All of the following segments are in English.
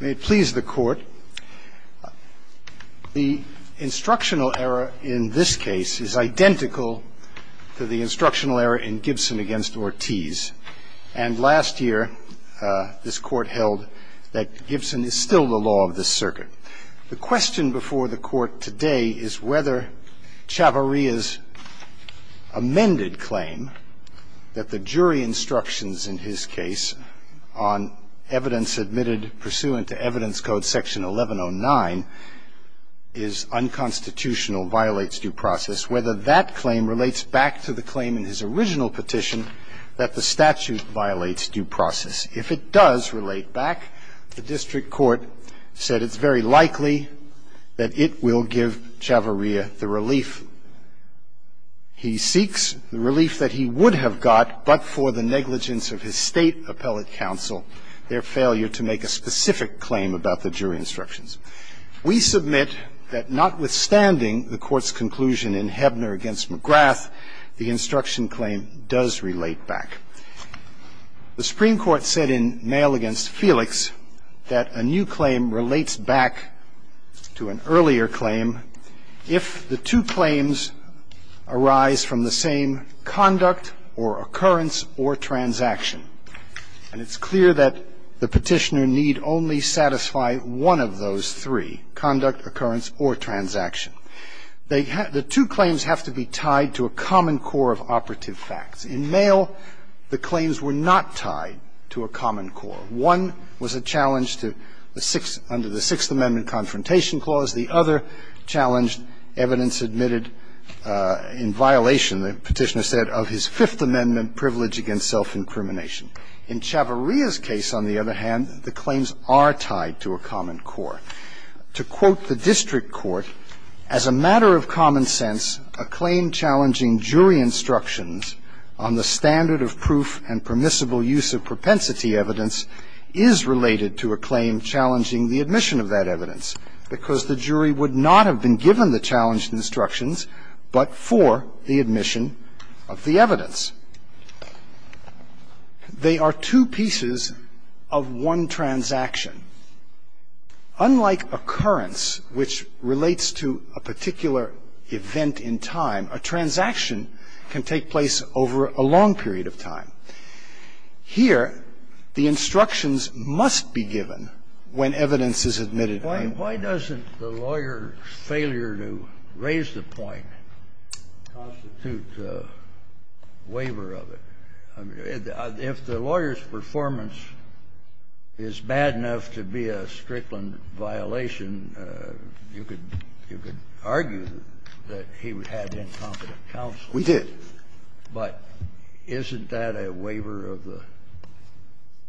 May it please the court. The instructional error in this case is identical to the instructional error in Gibson v. Ortiz, and last year this court held that Gibson is still the law of the circuit. The question before the court today is whether Chavarria's amended claim that the jury instructions in his case on evidence admitted pursuant to evidence code section 1109 is unconstitutional, violates due process, whether that claim relates back to the claim in his original petition that the statute violates due process. If it does relate back, the district court said it's very likely that it will give Chavarria the relief he seeks, the relief that he would have got but for the negligence of his State appellate counsel, their failure to make a specific claim about the jury instructions. We submit that notwithstanding the court's conclusion in Hebner v. McGrath, the instruction claim does relate back. The Supreme Court said in Mayall v. Felix that a new claim relates back to an earlier claim if the two claims arise from the same conduct or occurrence or transaction. And it's clear that the Petitioner need only satisfy one of those three, conduct, occurrence, or transaction. The two claims have to be tied to a common core of operative facts. In Mayall, the claims were not tied to a common core. One was a challenge to the sixth under the Sixth Amendment confrontation clause. The other challenge, evidence admitted in violation, the Petitioner said, of his Fifth Amendment privilege against self-incrimination. In Chavarria's case, on the other hand, the claims are tied to a common core. To quote the district court, as a matter of common sense, a claim challenging jury instructions on the standard of proof and permissible use of propensity evidence is related to a claim challenging the admission of that evidence, because the jury would not have been given the challenged instructions but for the admission of the evidence. They are two pieces of one transaction. Unlike occurrence, which relates to a particular event in time, a transaction can take place over a long period of time. Here, the instructions must be given when evidence is admitted. Scalia. Why doesn't the lawyer's failure to raise the point constitute a waiver of it? I mean, if the lawyer's performance is bad enough to be a Strickland violation, you could argue that he had incompetent counsel. We did. But isn't that a waiver of the?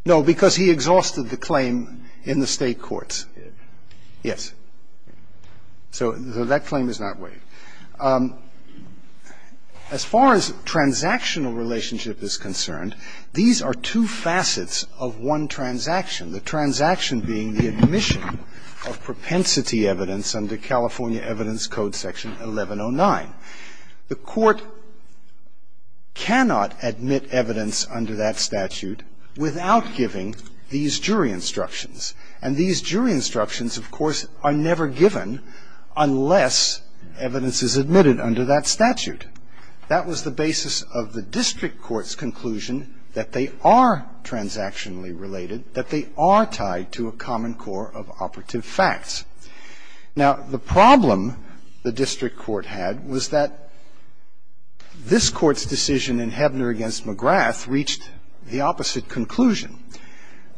No, because he exhausted the claim in the State courts. Yes. So that claim is not waived. As far as transactional relationship is concerned, these are two facets of one transaction, the transaction being the admission of propensity evidence under California Evidence Code Section 1109. The Court cannot admit evidence under that statute without giving these jury instructions. And these jury instructions, of course, are never given unless evidence is admitted under that statute. That was the basis of the district court's conclusion that they are transactionally related, that they are tied to a common core of operative facts. Now, the problem the district court had was that this court's decision in Hebner against McGrath reached the opposite conclusion.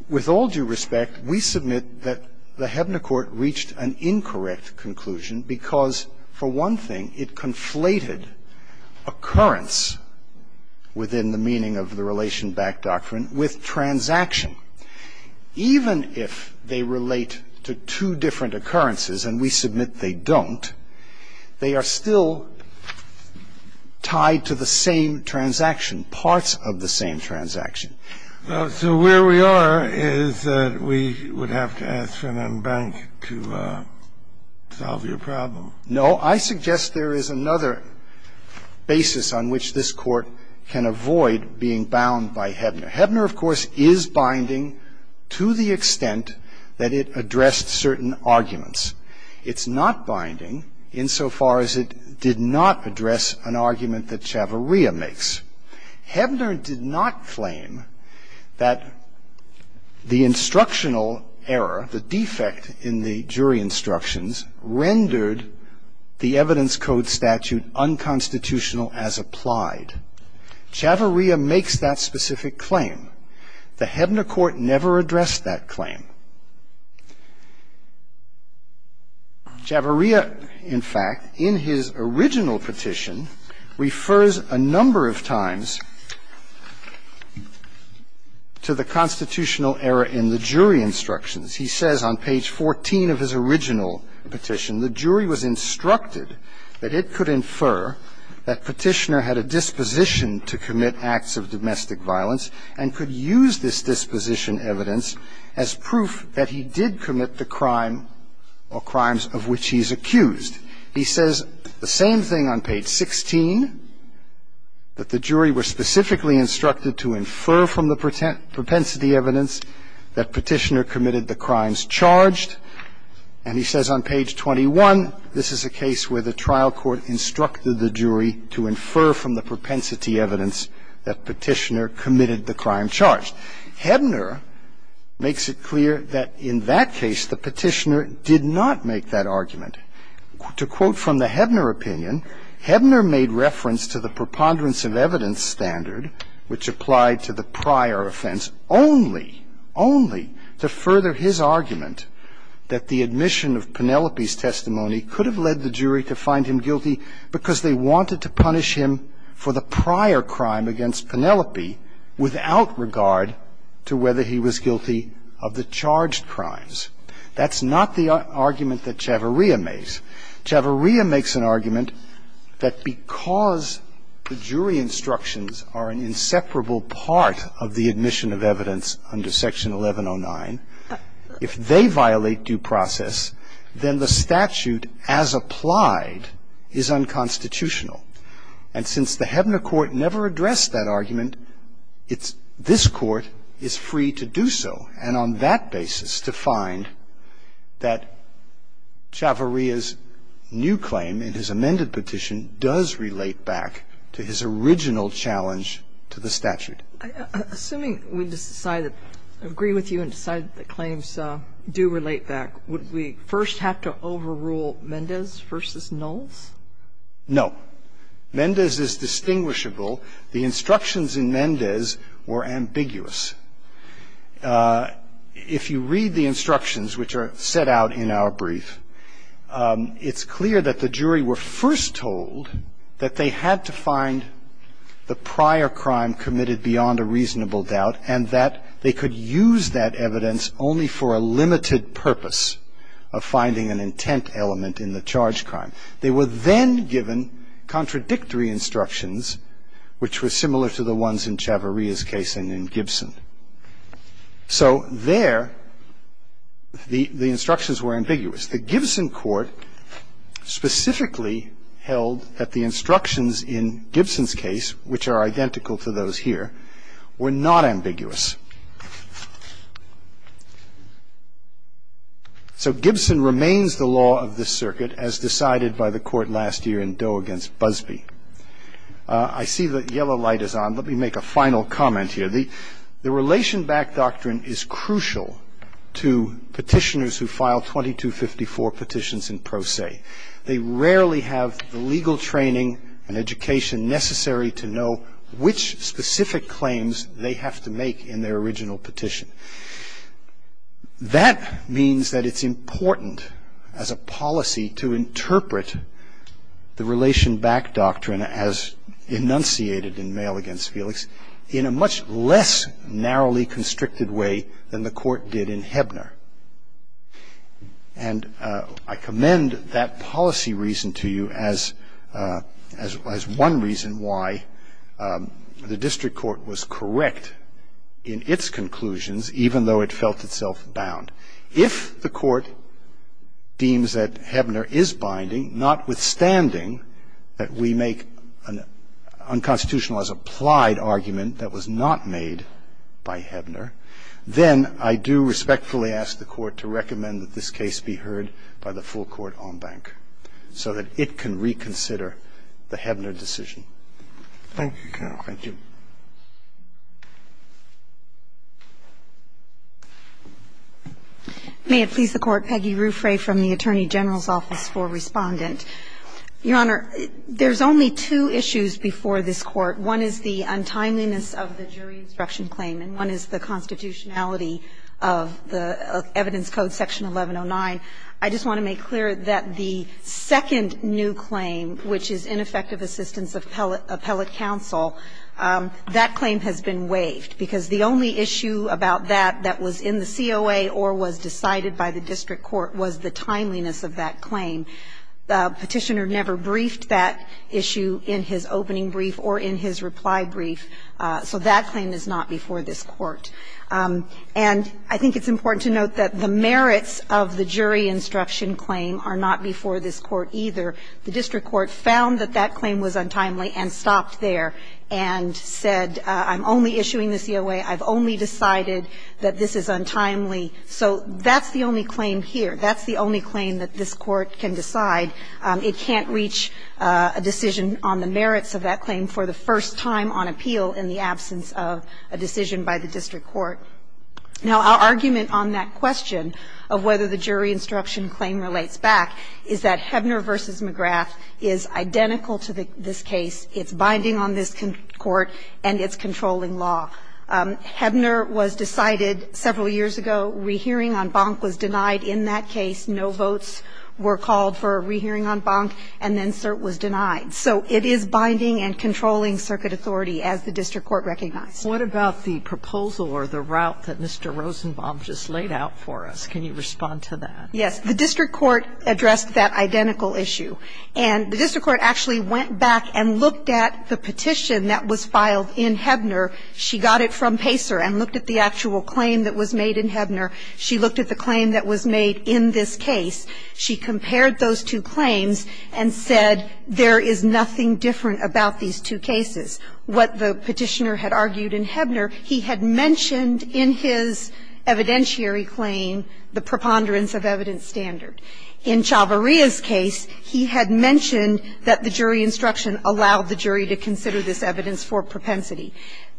With all due respect, we submit that the Hebner court reached an incorrect conclusion because, for one thing, it conflated occurrence within the meaning of the relation back doctrine with transaction. Even if they relate to two different occurrences, and we submit they don't, they are still tied to the same transaction, parts of the same transaction. So where we are is that we would have to ask for an embankment to solve your problem. No. I suggest there is another basis on which this Court can avoid being bound by Hebner. Hebner, of course, is binding to the extent that it addressed certain arguments. It's not binding insofar as it did not address an argument that Chavarria makes. Hebner did not claim that the instructional error, the defect in the jury instructions, rendered the evidence code statute unconstitutional as applied. Chavarria makes that specific claim. The Hebner court never addressed that claim. Chavarria, in fact, in his original petition, refers a number of times to the constitutional error in the jury instructions. He says on page 14 of his original petition, the jury was instructed that it could infer that Petitioner had a disposition to commit acts of domestic violence and could use this disposition evidence as proof that he did commit the crime or crimes of which he is accused. He says the same thing on page 16, that the jury was specifically instructed to infer from the propensity evidence that Petitioner committed the crimes charged. And he says on page 21, this is a case where the trial court instructed the jury to infer from the propensity evidence that Petitioner committed the crime charged. Hebner makes it clear that in that case, the Petitioner did not make that argument. To quote from the Hebner opinion, Hebner made reference to the preponderance of evidence standard, which applied to the prior offense, only, only to further his argument that the admission of Penelope's testimony could have led the jury to find him guilty because they wanted to punish him for the prior crime against Penelope without regard to whether he was guilty of the charged crimes. That's not the argument that Chavarria makes. Chavarria makes an argument that because the jury instructions are an inseparable part of the admission of evidence under section 1109, if they violate due process, then the statute as applied is unconstitutional. And since the Hebner court never addressed that argument, it's this Court is free to do so. And on that basis, to find that Chavarria's new claim in his amended petition does relate back to his original challenge to the statute. Sotomayor, assuming we decide that, agree with you and decide that the claims do relate back, would we first have to overrule Mendez v. Knowles? No. Mendez is distinguishable. The instructions in Mendez were ambiguous. If you read the instructions which are set out in our brief, it's clear that the jury were first told that they had to find the prior crime committed beyond a reasonable doubt. And that they could use that evidence only for a limited purpose of finding an intent element in the charge crime. They were then given contradictory instructions, which were similar to the ones in Chavarria's case and in Gibson. So there, the instructions were ambiguous. The Gibson court specifically held that the instructions in Gibson's case, which are identical to those here, were not ambiguous. So Gibson remains the law of this circuit as decided by the court last year in Doe against Busbee. I see the yellow light is on, let me make a final comment here. The relation back doctrine is crucial to petitioners who file 2254 petitions in pro se. They rarely have the legal training and their original petition. That means that it's important as a policy to interpret the relation back doctrine as enunciated in mail against Felix in a much less narrowly constricted way than the court did in Hebner. And I commend that policy reason to you as one reason why the district court was correct in its conclusions, even though it felt itself bound. If the court deems that Hebner is binding, notwithstanding that we make an unconstitutional as applied argument that was not made by Hebner, then I do respectfully ask the court to recommend that this case be heard by the full court en banc so that it can reconsider the Hebner decision. Thank you, counsel. Thank you. May it please the Court. Peggy Ruffray from the Attorney General's Office for Respondent. Your Honor, there's only two issues before this Court. One is the untimeliness of the jury instruction claim and one is the constitutionality of the evidence code section 1109. I just want to make clear that the second new claim, which is ineffective assistance of appellate counsel, that claim has been waived because the only issue about that that was in the COA or was decided by the district court was the timeliness of that claim. The petitioner never briefed that issue in his opening brief or in his reply brief. So that claim is not before this court. And I think it's important to note that the merits of the jury instruction claim are not before this court either. The district court found that that claim was untimely and stopped there and said, I'm only issuing the COA. I've only decided that this is untimely. So that's the only claim here. That's the only claim that this court can decide. It can't reach a decision on the merits of that claim for the first time on appeal in the absence of a decision by the district court. Now, our argument on that question of whether the jury instruction claim relates back is that Hebner v. McGrath is identical to this case. It's binding on this court, and it's controlling law. Hebner was decided several years ago. Rehearing on Bonk was denied in that case. No votes were called for a rehearing on Bonk, and then cert was denied. So it is binding and controlling circuit authority, as the district court recognized. Sotomayor, what about the proposal or the route that Mr. Rosenbaum just laid out for us? Can you respond to that? Yes. The district court addressed that identical issue. And the district court actually went back and looked at the petition that was filed in Hebner. She got it from Pacer and looked at the actual claim that was made in Hebner. She looked at the claim that was made in this case. She compared those two claims and said there is nothing different about these two cases. What the Petitioner had argued in Hebner, he had mentioned in his evidentiary claim the preponderance of evidence standard. In Chavarria's case, he had mentioned that the jury instruction allowed the jury to consider this evidence for propensity.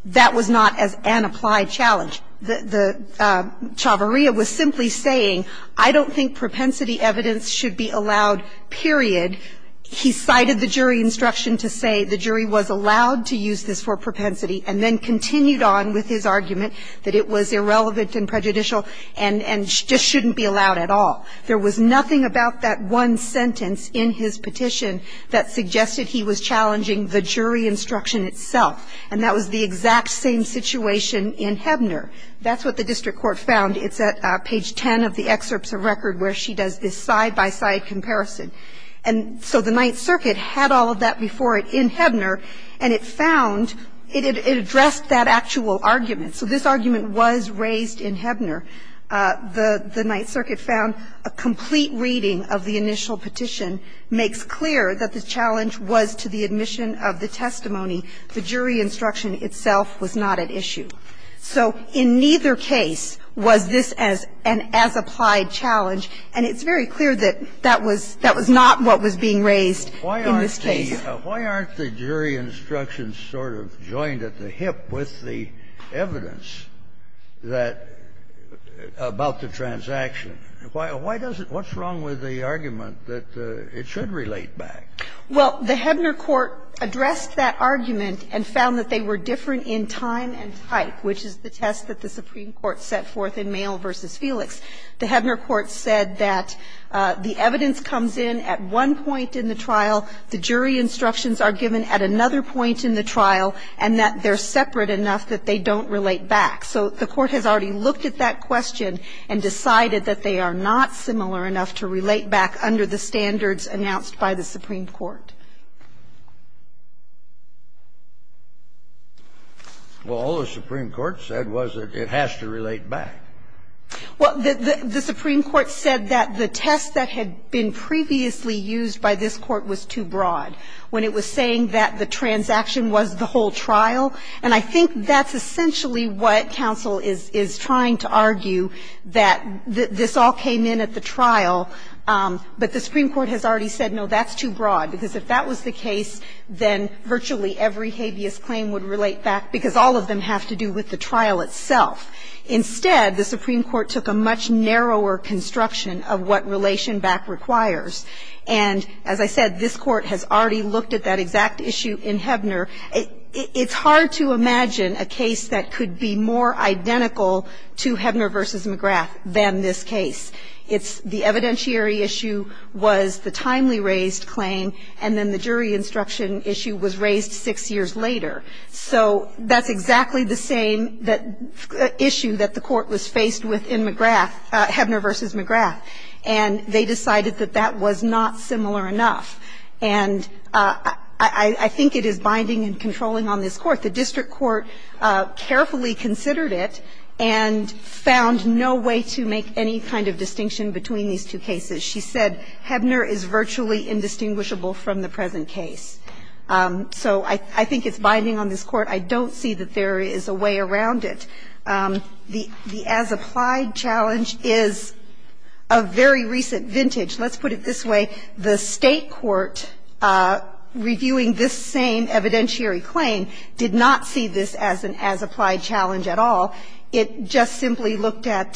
That was not an applied challenge. Chavarria was simply saying, I don't think propensity evidence should be allowed, period. He cited the jury instruction to say the jury was allowed to use this for propensity and then continued on with his argument that it was irrelevant and prejudicial and just shouldn't be allowed at all. There was nothing about that one sentence in his petition that suggested he was challenging the jury instruction itself. And that was the exact same situation in Hebner. That's what the district court found. It's at page 10 of the excerpts of record where she does this side-by-side comparison. And so the Ninth Circuit had all of that before it in Hebner, and it found it had addressed that actual argument. So this argument was raised in Hebner. The Ninth Circuit found a complete reading of the initial petition makes clear that the challenge was to the admission of the testimony. The jury instruction itself was not at issue. So in neither case was this as an as-applied challenge, and it's very clear that that was not what was being raised in this case. Kennedy, why aren't the jury instructions sort of joined at the hip with the evidence that about the transaction? Why does it – what's wrong with the argument that it should relate back? Well, the Hebner court addressed that argument and found that they were different in time and type, which is the test that the Supreme Court set forth in Mael v. Felix. The Hebner court said that the evidence comes in at one point in the trial, the jury instructions are given at another point in the trial, and that they're separate enough that they don't relate back. So the Court has already looked at that question and decided that they are not similar enough to relate back under the standards announced by the Supreme Court. Well, all the Supreme Court said was that it has to relate back. Well, the Supreme Court said that the test that had been previously used by this court was too broad, when it was saying that the transaction was the whole trial. And I think that's essentially what counsel is trying to argue, that this all came in at the trial, but the Supreme Court has already said, no, that's too broad, because if that was the case, then virtually every habeas claim would relate back And it's hard to imagine a case that could be more identical to Hebner v. McGrath than this case. It's the evidentiary issue was the timely-raised claim, and then the jury instruction issue was raised six years later. So that's exactly the same issue that the Court was faced with in McGrath, Hebner v. McGrath. And they decided that that was not similar enough. And I think it is binding and controlling on this Court. The district court carefully considered it and found no way to make any kind of distinction between these two cases. She said Hebner is virtually indistinguishable from the present case. So I think it's binding on this Court. I don't see that there is a way around it. The as-applied challenge is a very recent vintage. Let's put it this way. The State court reviewing this same evidentiary claim did not see this as an as-applied challenge at all. It just simply looked at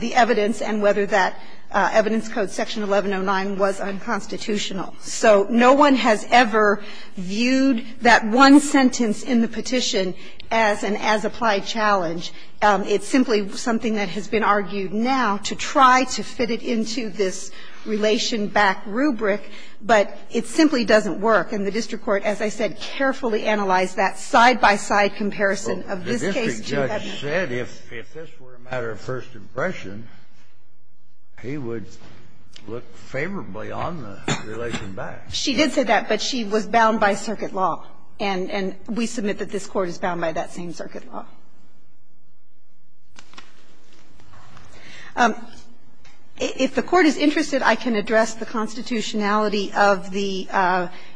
the evidence and whether that evidence code, Section 1109, was unconstitutional. So no one has ever viewed that one sentence in the petition as an as-applied challenge. It's simply something that has been argued now to try to fit it into this relation-back rubric, but it simply doesn't work. And the district court, as I said, carefully analyzed that side-by-side comparison of this case to Hebner. Kennedy, if this were a matter of first impression, he would look favorably on the relation-back. She did say that, but she was bound by circuit law. And we submit that this Court is bound by that same circuit law. If the Court is interested, I can address the constitutionality of the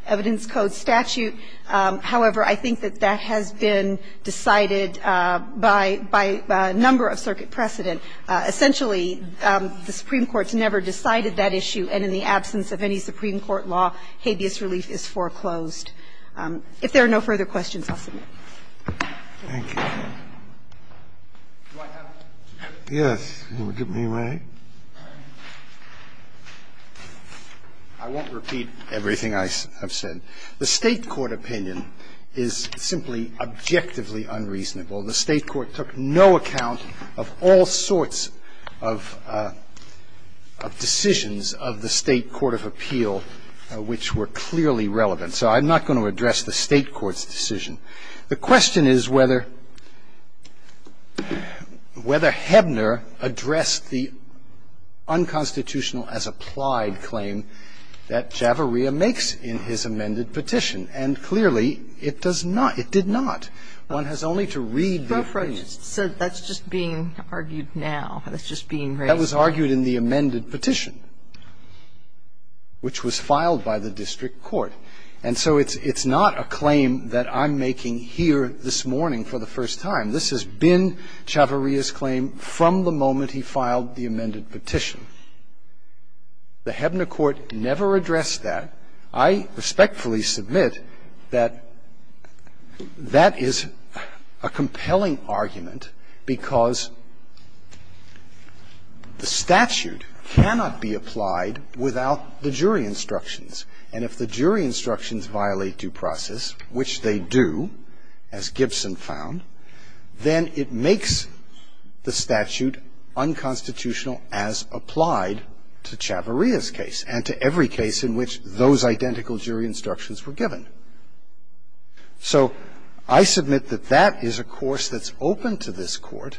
evidence code statute. However, I think that that has been decided by a number of circuit precedent. Essentially, the Supreme Court's never decided that issue, and in the absence of any Supreme Court law, habeas relief is foreclosed. If there are no further questions, I'll submit. Thank you. Do I have it? Yes. Would it be my right? I won't repeat everything I have said. The State court opinion is simply objectively unreasonable. The State court took no account of all sorts of decisions of the State court of appeal which were clearly relevant. So I'm not going to address the State court's decision. The question is whether Hebner addressed the unconstitutional as applied claim that Javaria makes in his amended petition. And clearly, it does not. It did not. One has only to read the opinion. So that's just being argued now. That's just being raised now. That was argued in the amended petition, which was filed by the district court. And so it's not a claim that I'm making here this morning for the first time. This has been Javaria's claim from the moment he filed the amended petition. The Hebner court never addressed that. I respectfully submit that that is a compelling argument because the statute cannot be applied without the jury instructions. And if the jury instructions violate due process, which they do, as Gibson found, then it makes the statute unconstitutional as applied to Javaria's case and to every case in which those identical jury instructions were given. So I submit that that is a course that's open to this Court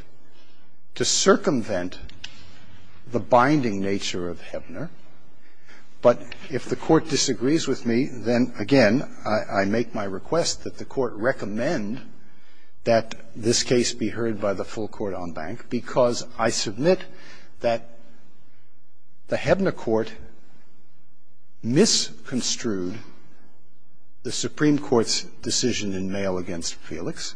to circumvent the binding nature of Hebner. But if the Court disagrees with me, then, again, I make my request that the Court recommend that this case be heard by the full court en banc because I submit that the Hebner court misconstrued the Supreme Court's decision in mail against Felix,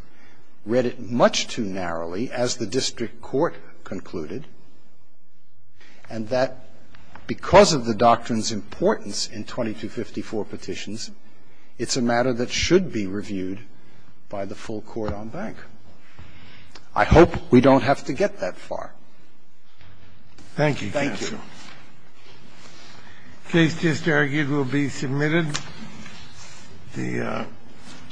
read it much too narrowly, as the district court concluded, and that the Supreme Court's decision in mail against Felix is a matter that should be reviewed by the full court en banc. I hope we don't have to get that far. Thank you, counsel. Thank you. The case just argued will be submitted. The